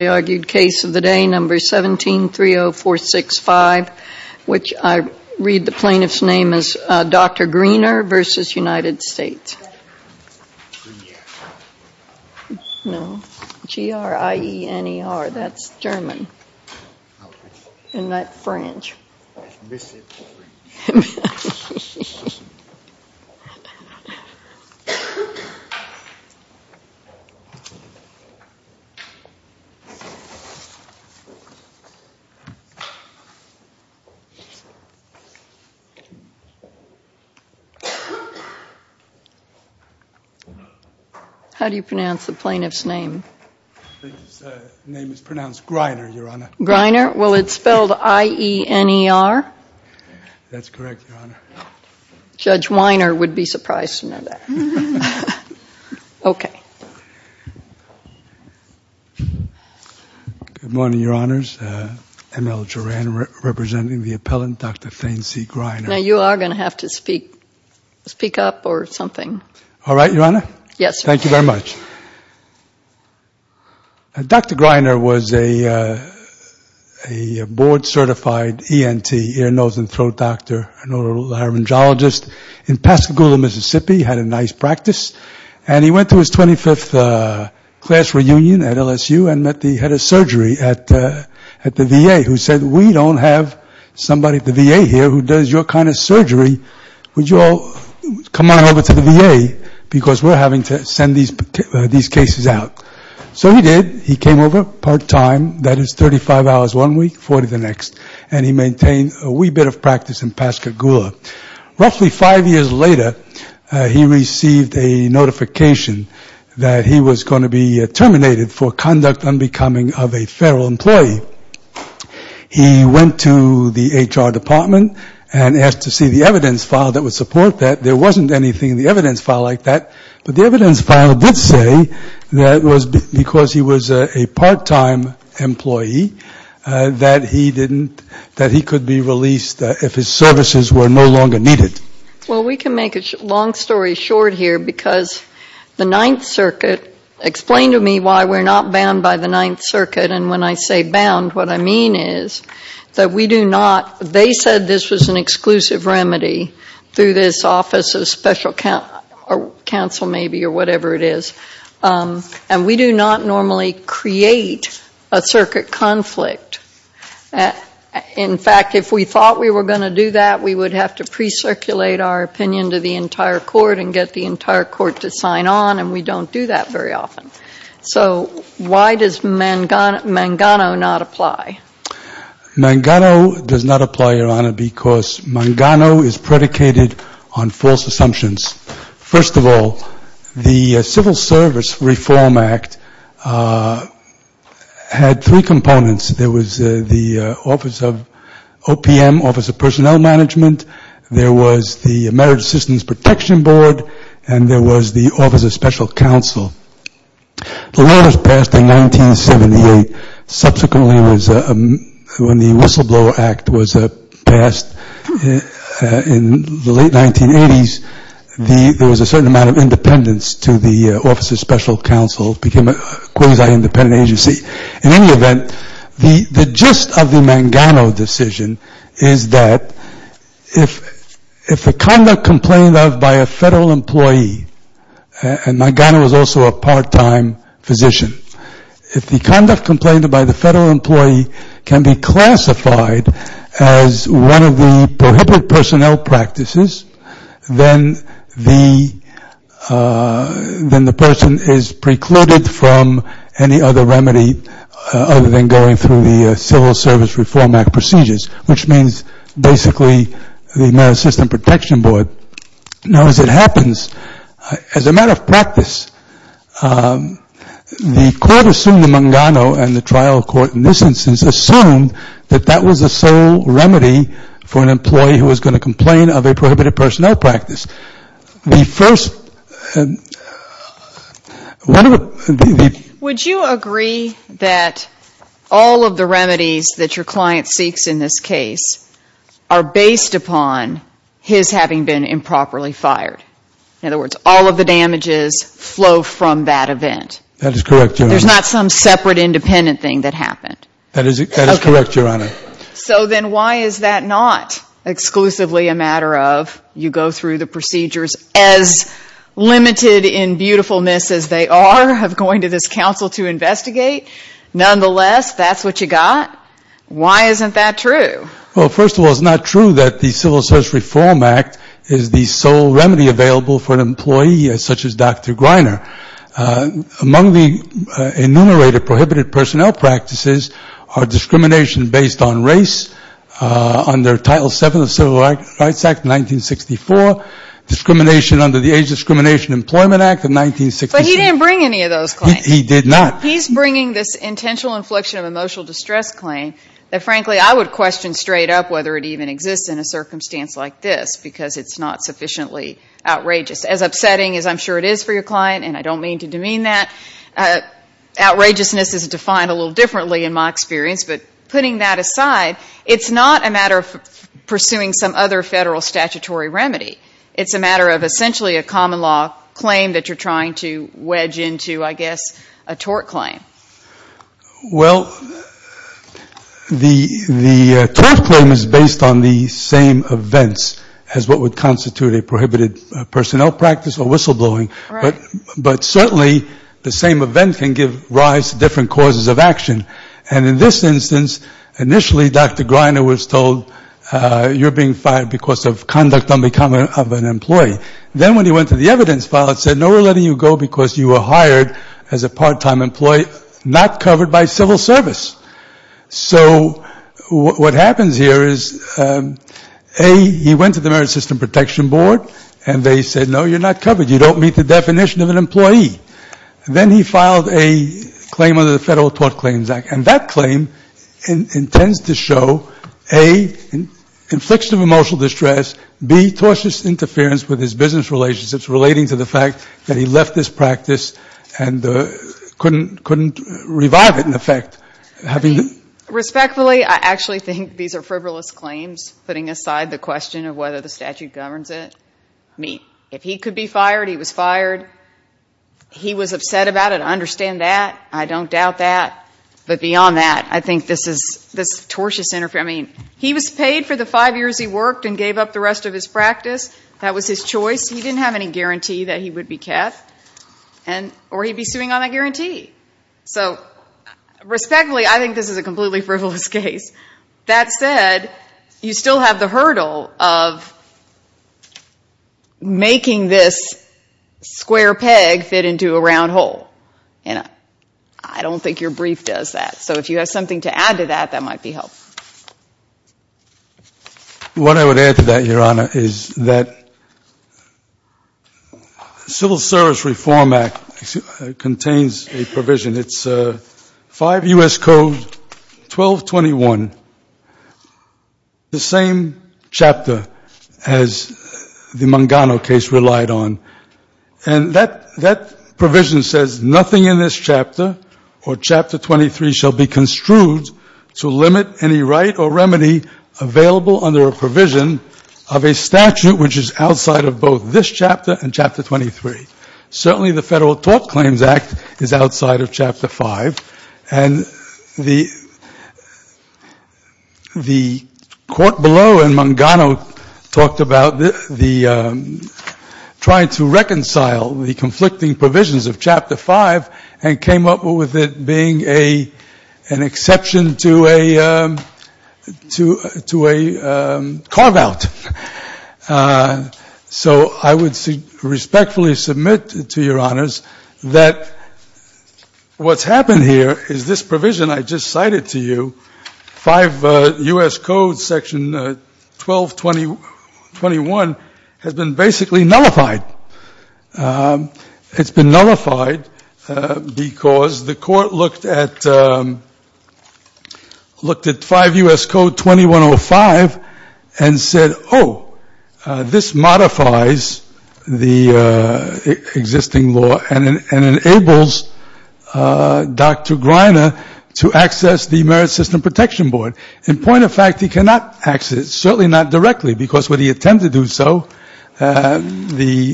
of the day, number 1730465, which I read the plaintiff's name as Dr. Griener v. United States. No, G-R-I-E-N-E-R, that's German, and not French. How do you pronounce the plaintiff's name? His name is pronounced Griener, Your Honor. Griener? Well, it's spelled I-E-N-E-R? That's correct, Your Honor. Judge Weiner would be surprised to know that. Okay. Good morning, Your Honors. M. L. Duran representing the appellant, Dr. Thayne C. Griener. Now, you are going to have to speak up or something. All right, Your Honor. Yes, sir. Thank you very much. Dr. Griener was a board-certified ENT, ear, nose, and throat doctor, an oral laryngeologist in Pascagoula, Mississippi. He had a nice practice. And he went to his 25th class reunion at LSU and met the head of surgery at the VA, who said, we don't have somebody at the VA here who does your kind of surgery. Would you all come on over to the VA? Because we're having to send these cases out. So he did. He came over part-time. That is 35 hours one week, 40 the next. And he maintained a wee bit of practice in Pascagoula. Roughly five years later, he received a notification that he was going to be terminated for conduct unbecoming of a federal employee. He went to the HR department and asked to see the evidence file that would support that. There wasn't anything in the evidence file like that. But the evidence file did say that it was because he was a part-time employee that he didn't, that he could be released if his services were no longer needed. Well, we can make a long story short here, because the Ninth Circuit, explain to me why we're not bound by the Ninth Circuit. And when I say bound, what I mean is that we do not, they said this was an exclusive remedy through this Office of Special Counsel, maybe, or whatever it is. And we do not normally create a circuit conflict. In fact, if we thought we were going to do that, we would have to recirculate our opinion to the entire court and get the entire court to sign on, and we don't do that very often. So why does Mangano not apply? Mangano does not apply, Your Honor, because Mangano is predicated on false assumptions. First of all, the Civil Service Reform Act had three components. There was the Office of OPM, Office of Personnel Management, there was the Marriage Assistance Protection Board, and there was the Office of Special Counsel. The law was passed in 1978. Subsequently, when the Whistleblower Act was passed in the late 1980s, there was a certain amount of independence to the Office of Special Counsel. It became a quasi-independent agency. In any case, if the conduct complained of by a federal employee, and Mangano is also a part-time physician, if the conduct complained of by the federal employee can be classified as one of the prohibited personnel practices, then the person is precluded from any other remedy other than going through the Civil Service Reform Act procedures, which means basically the Marriage Assistance Protection Board. Now, as it happens, as a matter of practice, the court assumed that Mangano and the trial court in this instance assumed that that was the sole remedy for an employee who was going to complain of a prohibited personnel practice. The first one of the ‑‑ Would you agree that all of the remedies that your client seeks in this case, including the one that was proposed, are based upon his having been improperly fired? In other words, all of the damages flow from that event? That is correct, Your Honor. There's not some separate independent thing that happened? That is correct, Your Honor. So then why is that not exclusively a matter of you go through the procedures as limited in beautifulness as they are of Well, first of all, it's not true that the Civil Service Reform Act is the sole remedy available for an employee such as Dr. Greiner. Among the enumerated prohibited personnel practices are discrimination based on race under Title VII of the Civil Rights Act of 1964, discrimination under the Age Discrimination Employment Act of 1967. But he didn't bring any of those claims. He did not. He's bringing this intentional infliction of emotional distress claim that, frankly, I would question straight up whether it even exists in a circumstance like this, because it's not sufficiently outrageous. As upsetting as I'm sure it is for your client, and I don't mean to demean that, outrageousness is defined a little differently in my experience. But putting that aside, it's not a matter of pursuing some other federal statutory remedy. It's a matter of essentially a common law claim that you're trying to wedge into, I guess, a tort claim. Well, the tort claim is based on the same events as what would constitute a prohibited personnel practice or whistleblowing. But certainly the same event can give rise to different causes of action. And in this instance, initially Dr. Greiner was told, you're being fired because of conduct unbecoming of an employee. Then when he went to the evidence file, it said, no, we're letting you go because you were hired as a part-time employee, not covered by civil service. So what happens here is, A, he went to the Merit System Protection Board, and they said, no, you're not covered. You don't meet the definition of an employee. Then he filed a claim under the Federal Tort Claims Act. And that claim intends to show, A, infliction of emotional distress, B, tortuous interference with his business relationships relating to the fact that he left this practice and couldn't revive it, in effect. Respectfully, I actually think these are frivolous claims, putting aside the question of whether the statute governs it. I mean, if he could be fired, he was fired. He was upset about it. I understand that. I don't doubt that. But beyond that, I think this is tortuous interference. I mean, he was paid for the five years he worked and gave up the rest of his practice. That was his choice. He didn't have any guarantee that he would be kept, or he'd be suing on that guarantee. So respectfully, I think this is a completely frivolous case. That said, you still have the hurdle of making this square peg fit into a round hole. And I don't think your brief does that. So if you have something to add to that, that might be helpful. What I would add to that, Your Honor, is that the Civil Service Reform Act contains a provision. It's 5 U.S. Code 1221, the same chapter as the Mangano case relied on. And that provision says, nothing in this chapter or Chapter 23 shall be construed to limit any right or remedy available under a provision of a statute which is outside of both this chapter and Chapter 23. Certainly the Federal Tort Claims Act is outside of Chapter 5. And the court below in Mangano talked about the trying to remove the statute from Chapter 5. And the court reconciled the conflicting provisions of Chapter 5 and came up with it being an exception to a carve-out. So I would respectfully submit to Your Honors that what's happened here is this provision I just cited to you, 5 U.S. Code Section 1221, has been basically nullified. It's been nullified because the court looked at 5 U.S. Code 2105 and said, oh, this modifies the existing law and enables Dr. Greiner to access the Merit System Protection Board. In point of fact, he cannot access it. The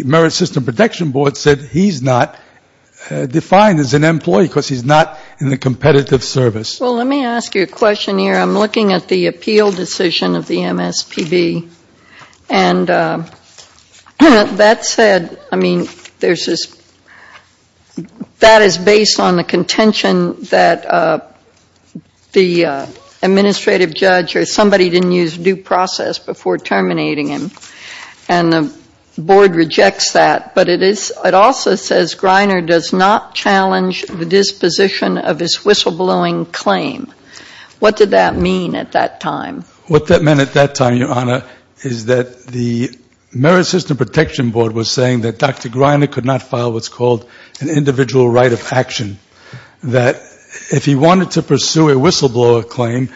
Merit System Protection Board said he's not defined as an employee because he's not in the competitive service. Well, let me ask you a question here. I'm looking at the appeal decision of the MSPB. And that said, I mean, there's this, that is based on the contention that the administrative judge or somebody didn't use due process before terminating him. And the board rejects that. But it also says Greiner does not challenge the disposition of his whistleblowing claim. What did that mean at that time? What that meant at that time, Your Honor, is that the Merit System Protection Board was saying that Dr. Greiner could not file what's called an individual right of action. That if he wanted to pursue a whistleblower claim,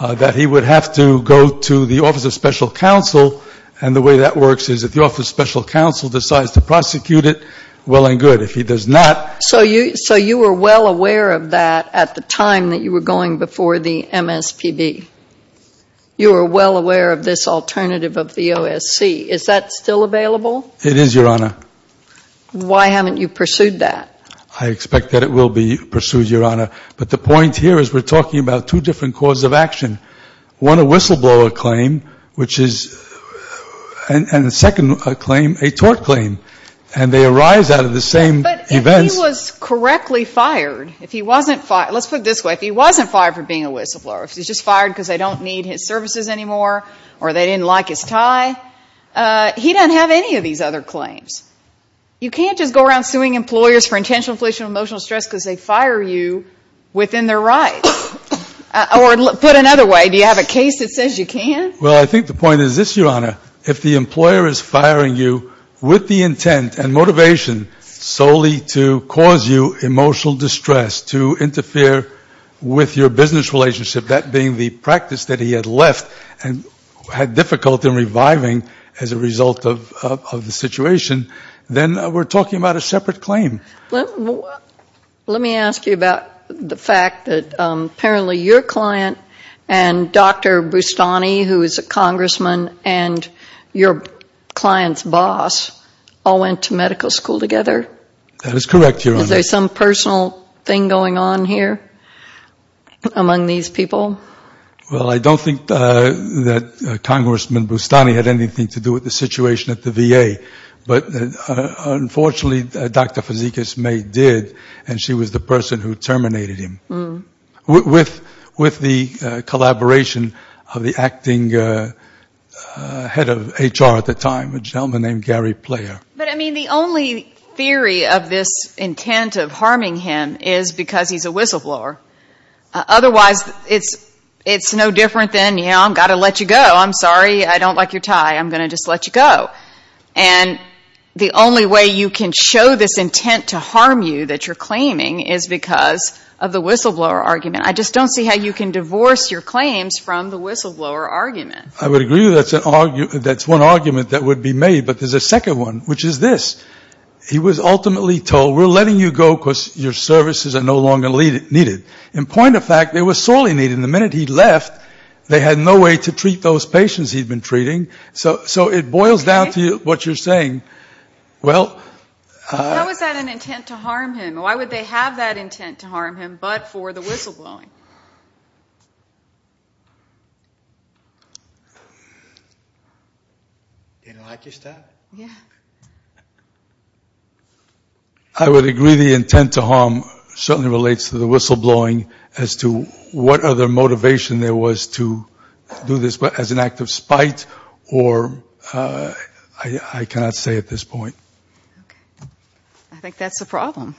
that he would have to go to the Office of Special Counsel and the whistleblower. And the way that works is if the Office of Special Counsel decides to prosecute it, well and good. If he does not. So you were well aware of that at the time that you were going before the MSPB. You were well aware of this alternative of the OSC. Is that still available? It is, Your Honor. Why haven't you pursued that? I expect that it will be pursued, Your Honor. But the point here is we're talking about two different causes of action. One, a whistleblower claim, which is, and the second claim, a tort claim. And they arise out of the same events. If he was correctly fired, if he wasn't fired, let's put it this way, if he wasn't fired for being a whistleblower, if he was just fired because they don't need his services anymore or they didn't like his tie, he doesn't have any of these other claims. You can't just go around suing employers for intentional infliction of emotional stress because they fire you within their rights. Or put another way, do you have a case that says you can? Well, I think the point is this, Your Honor, if the employer is firing you with the intent and motivation solely to cause you emotional distress, to interfere with your business relationship, that being the practice that he had left and had difficulty in reviving as a result of the situation, then we're talking about a separate claim. Let me ask you about the fact that apparently your client and Dr. Bustani, who is a congressman, and your client's boss all went to medical school together? That is correct, Your Honor. Is there some personal thing going on here among these people? Well, I don't think that Congressman Bustani had anything to do with the situation at the VA. But unfortunately, Dr. Fazekas May did, and she was the person who terminated him. With the collaboration of the acting head of HR at the time, a gentleman named Gary Player. But, I mean, the only theory of this intent of harming him is because he's a whistleblower. Otherwise, it's no different than, you know, I've got to let you go. I'm sorry, I don't like your tie. I'm going to just let you go. And the only way you can show this intent to harm you that you're claiming is because of the whistleblower argument. I just don't see how you can divorce your claims from the whistleblower argument. I would agree that's one argument that would be made. But there's a second one, which is this. He was ultimately told, we're letting you go because your services are no longer needed. In point of fact, they were sorely needed. And the minute he left, they had no way to treat those patients he'd been treating. So it boils down to what you're saying. How is that an intent to harm him? Why would they have that intent to harm him but for the whistleblowing? Do you like your tie? I would agree the intent to harm certainly relates to the whistleblowing as to what other motivation there was to do this as an act of spite or I cannot say at this point. I think that's the problem.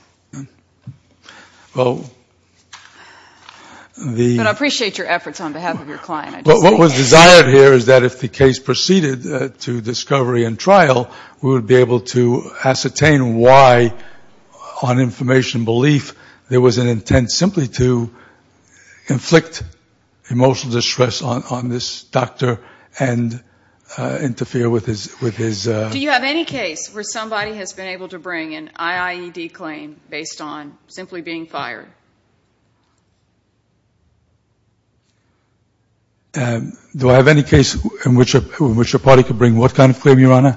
But I appreciate your efforts on behalf of your client. What was desired here is that if the case proceeded to discovery and trial, we would be able to ascertain why on information belief there was an intent simply to inflict emotional distress on this doctor and interfere with his... Do you have any case where somebody has been able to bring an IIED claim based on simply being fired? Do I have any case in which a party could bring what kind of claim, Your Honor?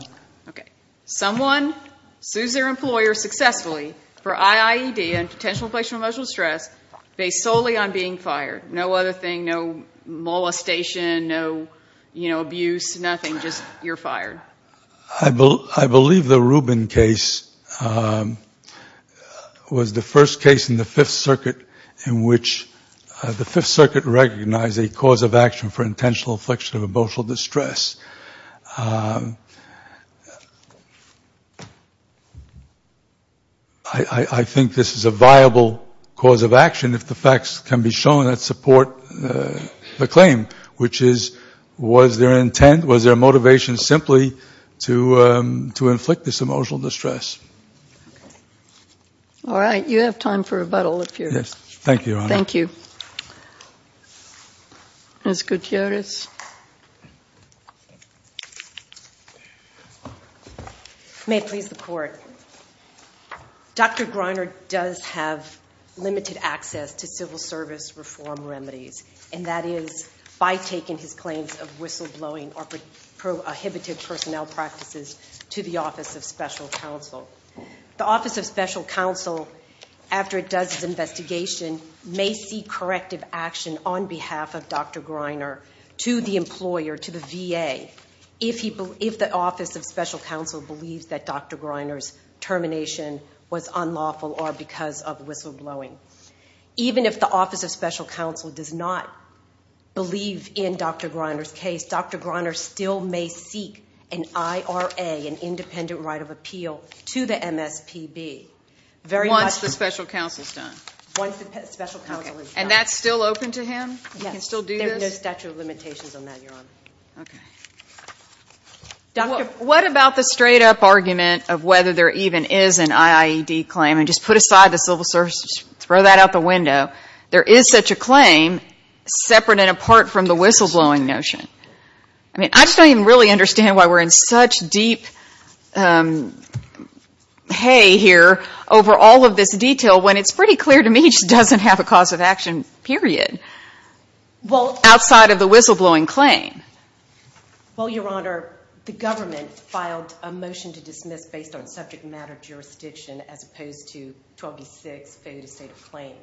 Okay. Someone sues their employer successfully for IIED and potential infliction of emotional distress based solely on being fired. No other thing, no molestation, no, you know, abuse, nothing, just you're fired. I believe the Rubin case was the first case in the Fifth Circuit in which there was an intent to harm the patient. The Fifth Circuit recognized a cause of action for intentional infliction of emotional distress. I think this is a viable cause of action if the facts can be shown that support the claim, which is, was there an intent, was there a motivation simply to inflict this emotional distress? All right. You have time for rebuttal if you're... Yes. Thank you, Your Honor. Thank you. Ms. Gutierrez. May it please the Court. Dr. Greiner does have limited access to civil service reform remedies, and that is by taking his claims of whistleblowing or prohibited personnel practices to the Office of Special Counsel. The Office of Special Counsel, after it does its investigation, may seek corrective action on behalf of Dr. Greiner to the employer, to the VA, if the Office of Special Counsel believes that Dr. Greiner's termination was unlawful or because of whistleblowing. Even if the Office of Special Counsel does not believe in Dr. Greiner's case, Dr. Greiner still may seek an IRA, an independent right of appeal, to the VA. And that's still open to him? Yes. There are no statute of limitations on that, Your Honor. What about the straight-up argument of whether there even is an IAED claim? And just put aside the civil service, just throw that out the window. There is such a claim, separate and apart from the whistleblowing notion. I mean, I just don't even really understand why we're in such deep hay here over all of this detail when it's pretty clear to me he just doesn't have a cause of action, period, outside of the whistleblowing claim. Well, Your Honor, the government filed a motion to dismiss based on subject matter jurisdiction as opposed to 1286 failure to state a claim.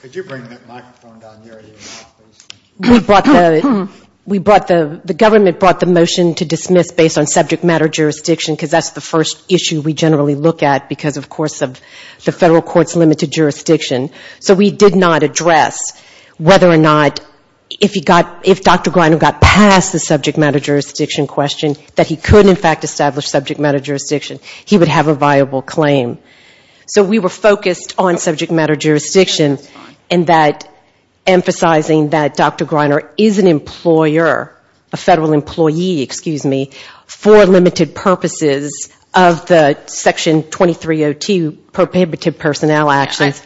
Could you bring that microphone down there? We brought the, the government brought the motion to dismiss based on subject matter jurisdiction, because that's the first issue we generally look at, because, of course, of the federal court's limited jurisdiction. So we did not address whether or not, if Dr. Greiner got past the subject matter jurisdiction question, that he could in fact establish subject matter jurisdiction. He would have a viable claim. So we were focused on subject matter jurisdiction, and that emphasizing that Dr. Greiner is an employer, a federal employee, excuse me, for limited purposes of the Section 2302 prohibitive personnel actions.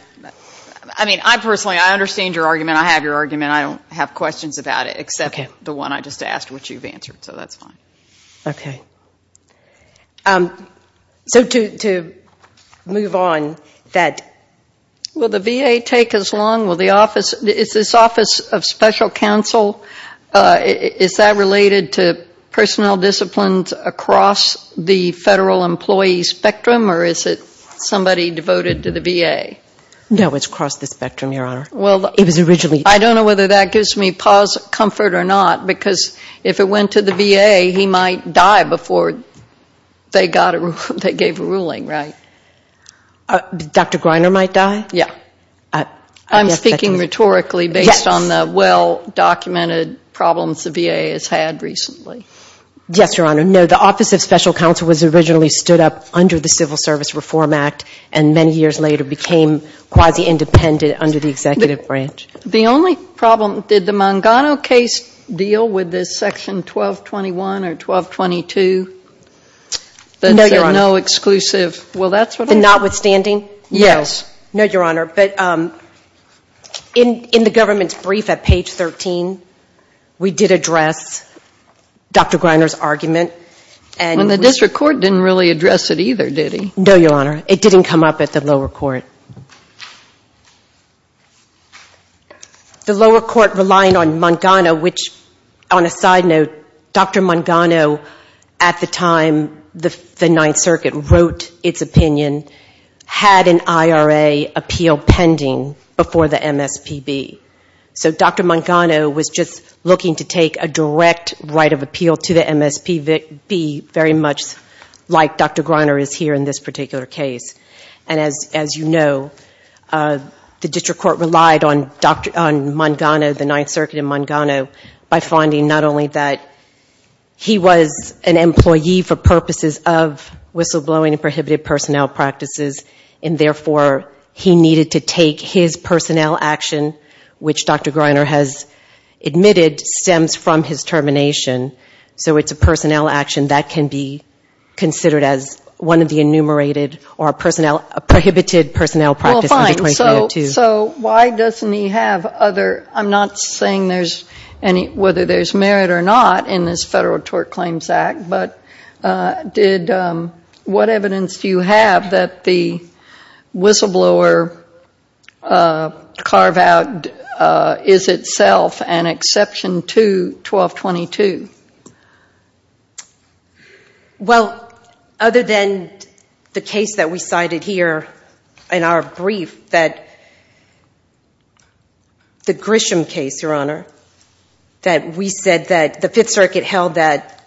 I mean, I personally, I understand your argument, I have your argument, I don't have questions about it, except the one I just asked which you've answered, so that's fine. So to, to move on, that. Will the VA take as long, will the office, is this Office of Special Counsel, is that related to personnel disciplines across the federal employee spectrum, or is it somebody devoted to the VA? No, it's across the spectrum, Your Honor. Well, I don't know whether that gives me pause, comfort or not, because if it went to the VA, he might die before they got it required. They gave a ruling, right? Dr. Greiner might die? Yeah. I'm speaking rhetorically based on the well-documented problems the VA has had recently. Yes, Your Honor. No, the Office of Special Counsel was originally stood up under the Civil Service Reform Act, and many years later became quasi-independent under the Executive Branch. The only problem, did the Mangano case deal with this Section 1221 or 1222? No, Your Honor. That's no exclusive, well, that's what I'm saying. Notwithstanding? Yes. No, Your Honor. But in the government's brief at page 13, we did address Dr. Greiner's argument. And the district court didn't really address it either, did he? No, Your Honor. And the district court, as you know, had an IRA appeal pending before the MSPB. So Dr. Mangano was just looking to take a direct right of appeal to the MSPB, very much like Dr. Greiner is here in this particular case. And as you know, the district court relied on Mangano, the Ninth Circuit and Mangano, by finding not only that he was an employee for purposes of whistleblowing practices, and therefore he needed to take his personnel action, which Dr. Greiner has admitted stems from his termination. So it's a personnel action that can be considered as one of the enumerated or prohibited personnel practices. Well, fine. So why doesn't he have other, I'm not saying whether there's merit or not in this Federal Tort Claims Act, but what evidence do you have that the whistleblower carve-out is itself an exception to 1222? Well, other than the case that we cited here in our brief, the Grisham case, Your Honor, that we said that the Fifth Circuit held that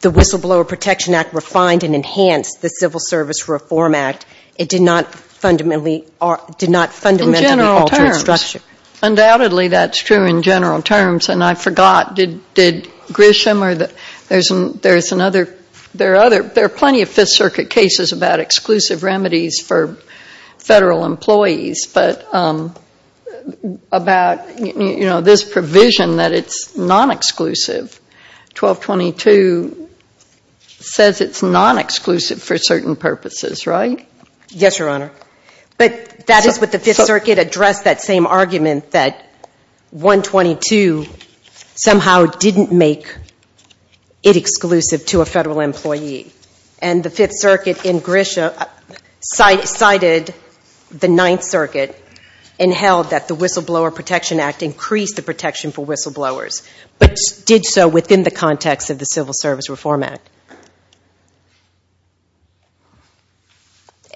the whistleblower carve-out did not fundamentally alter its structure. In general terms. Undoubtedly that's true in general terms, and I forgot, did Grisham or the, there's another, there are other, there are plenty of Fifth Circuit cases about exclusive remedies for Federal employees, but about, you know, this provision that it's non-exclusive. 1222 says it's non-exclusive for certain purposes, right? Yes, Your Honor. But that is what the Fifth Circuit addressed, that same argument that 122 somehow didn't make it exclusive to a Federal employee. And the Fifth Circuit in Grisham cited the Ninth Circuit and held that the Whistleblower Protection Act increased the protection for whistleblowers, but did so within the context of the Civil Service Reform Act.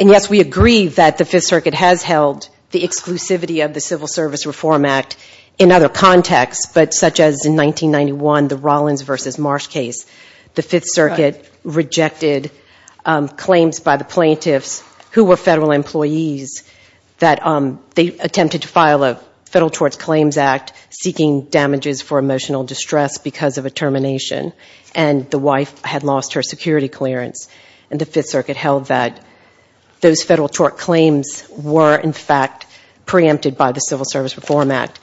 And yes, we agree that the Fifth Circuit has held the exclusivity of the Civil Service Reform Act in other contexts, but such as in 1991, the Rollins v. Marsh case, the Fifth Circuit rejected claims by the plaintiffs who were Federal employees that they attempted to file a Federal Torts Claims Act seeking damages for emotional distress because of a termination, and the wife had lost her job. She lost her security clearance, and the Fifth Circuit held that those Federal tort claims were, in fact, preempted by the Civil Service Reform Act.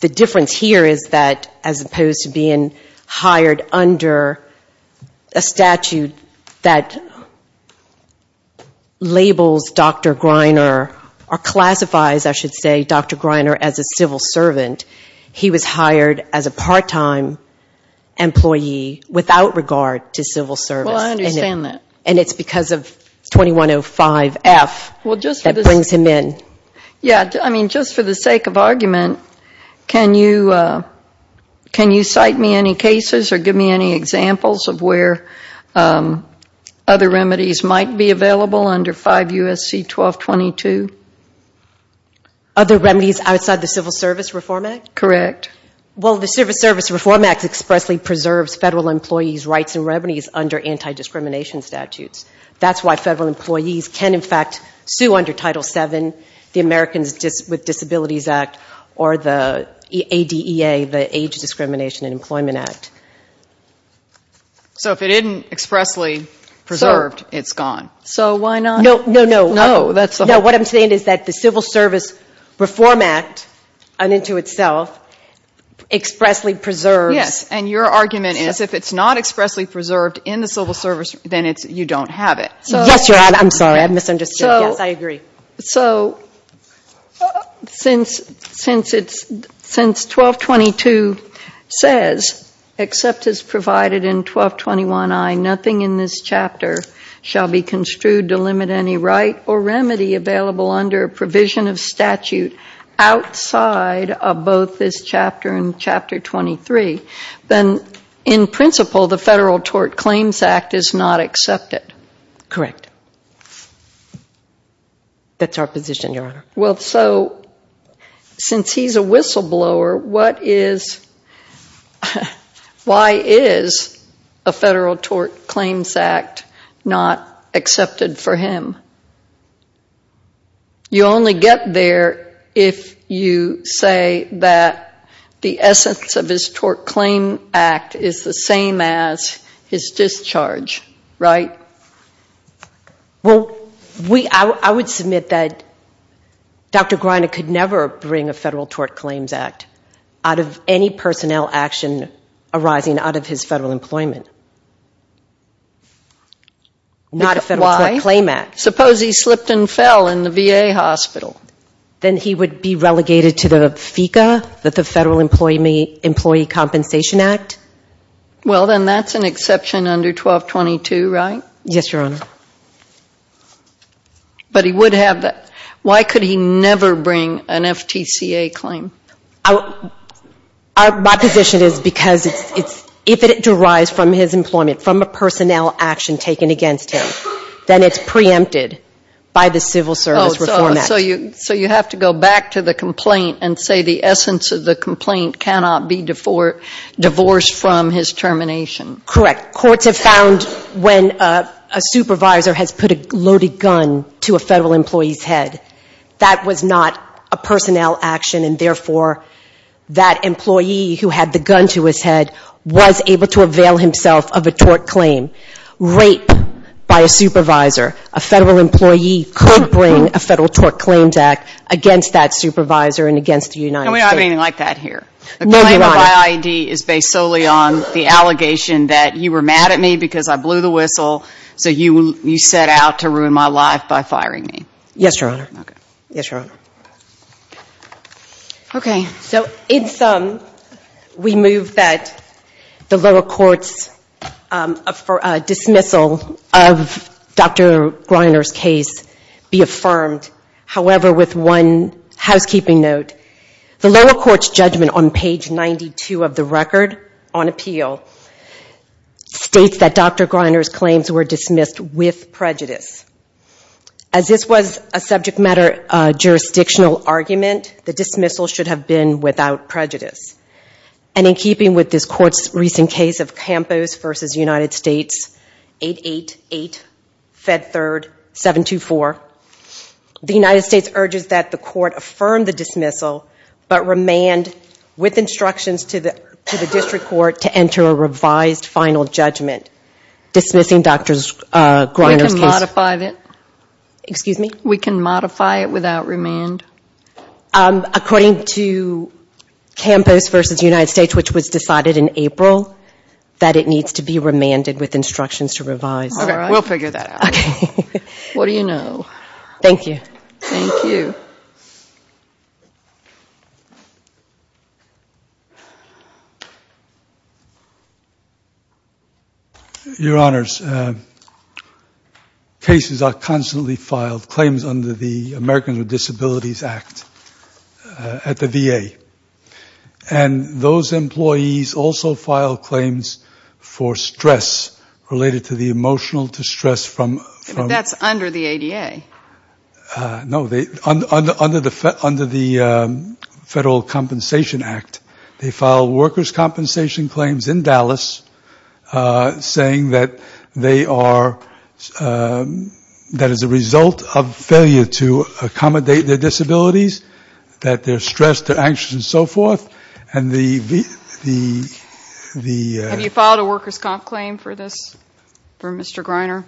The difference here is that, as opposed to being hired under a statute that labels Dr. Greiner, or classifies, I should say, Dr. Greiner as a civil servant, he was hired as a part-time employee without regard to civil service. And it's because of 2105F that brings him in. Yeah, I mean, just for the sake of argument, can you cite me any cases or give me any examples of where other remedies might be available under 5 U.S.C. 1222? Other remedies outside the Civil Service Reform Act? Correct. Well, the Civil Service Reform Act expressly preserves Federal employees' rights and remedies under anti-discrimination statutes. That's why Federal employees can, in fact, sue under Title VII, the Americans with Disabilities Act, or the ADEA, the Age Discrimination and Employment Act. So if it isn't expressly preserved, it's gone? No, no, no. No, what I'm saying is that the Civil Service Reform Act, unto itself, expressly preserves... Yes, and your argument is if it's not expressly preserved in the Civil Service, then you don't have it. Yes, Your Honor, I'm sorry, I've misunderstood. Yes, I agree. So since 1222 says, except as provided in 1221I, nothing in this chapter shall be construed to limit any right or remedy available under a provision of statute outside of both this chapter and Chapter 23, then in principle, the Federal Tort Claims Act is not accepted. Correct. That's our position, Your Honor. Well, so since he's a whistleblower, why is a Federal Tort Claims Act not accepted for him? You only get there if you say that the essence of his Tort Claims Act is the same as his discharge, right? Well, I would submit that Dr. Greiner could never bring a Federal Tort Claims Act out of any personnel action arising out of his federal employment. Why? Not a Federal Tort Claims Act. Suppose he slipped and fell in the VA hospital? Then he would be relegated to the FICA, the Federal Employee Compensation Act? Well, then that's an exception under 1222, right? Yes, Your Honor. But he would have that. Why could he never bring an FTCA claim? My position is because if it derives from his employment, from a personnel action taken against him, then it's preempted by the Civil Service Reform Act. So you have to go back to the complaint and say the essence of the complaint cannot be divorced from his termination? Correct. Courts have found when a supervisor has put a loaded gun to a federal employee's head, that was not a personnel action, and therefore that employee who had the gun to his head was able to avail himself of a tort claim. Rape by a supervisor. No, Your Honor. The claim of IID is based solely on the allegation that you were mad at me because I blew the whistle, so you set out to ruin my life by firing me. Yes, Your Honor. We move that the lower court's dismissal of Dr. Greiner's case be affirmed. However, with one housekeeping note, the lower court's judgment on page 92 of the record, on appeal, states that Dr. Greiner's claims were dismissed with prejudice. As this was a subject matter jurisdictional argument, the dismissal should have been without prejudice. And in keeping with this court's recent case of Campos v. United States, 8-8-8, Fed 3rd, 7-2-4. The United States urges that the court affirm the dismissal, but remand with instructions to the district court to enter a revised final judgment dismissing Dr. Greiner's case. We can modify it without remand? According to Campos v. United States, which was decided in April, that it needs to be remanded with instructions to revise. Okay, we'll figure that out. Your Honors, cases are constantly filed, claims under the Americans with Disabilities Act at the VA. And those employees also file claims for stress related to the emotional state of their employees. But that's under the ADA. No, under the Federal Compensation Act, they file workers' compensation claims in Dallas, saying that they are, that as a result of failure to accommodate their disabilities, that they're stressed, they're anxious, and so forth. And the... Have you filed a workers' comp claim for this, for Mr. Greiner?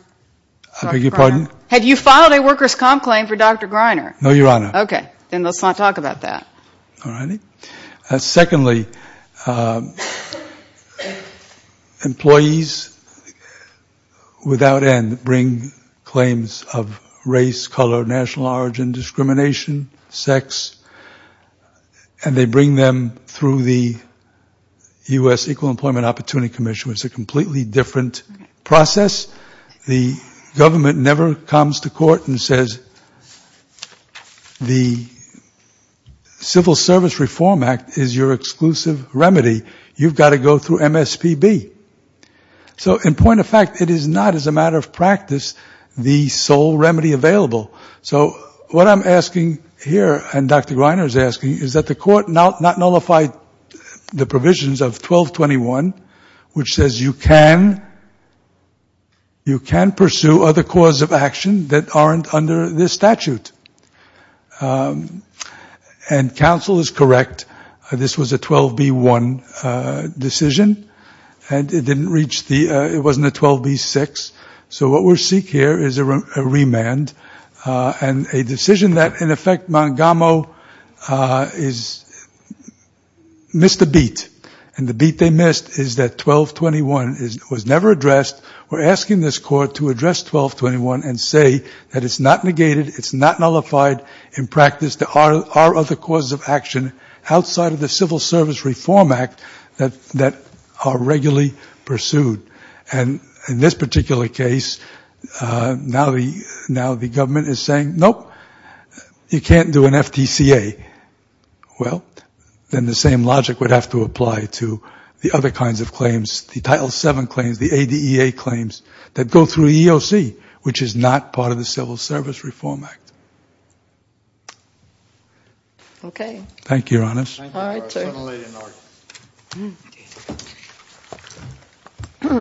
I beg your pardon? Have you filed a workers' comp claim for Dr. Greiner? No, Your Honor. Okay, then let's not talk about that. Secondly, employees without end bring claims of race, color, national origin, discrimination, sex, and they bring them through the U.S. Equal Employment Opportunity Commission. It's a completely different process. The Civil Service Reform Act is your exclusive remedy. You've got to go through MSPB. So, in point of fact, it is not, as a matter of practice, the sole remedy available. So, what I'm asking here, and Dr. Greiner is asking, is that the Court not nullify the provisions of 1221, which says you can pursue other cause of action that aren't under this statute. And counsel is correct, this was a 12B1 decision, and it didn't reach the, it wasn't a 12B6. So, what we seek here is a remand, and a decision that, in effect, Montgomery missed the beat. And the beat they missed is that 1221 was never addressed. We're asking this Court to address 1221 and say that it's not negated, it's not nullified. In practice, there are other causes of action outside of the Civil Service Reform Act that are regularly pursued. And in this particular case, now the government is saying, nope, you can't do an FTCA. Well, then the same logic would have to apply to the other kinds of claims, the Title VII claims, the ADEA claims, that go through EOC, which is not part of the Civil Service Reform Act. Okay. Thank you, Your Honors.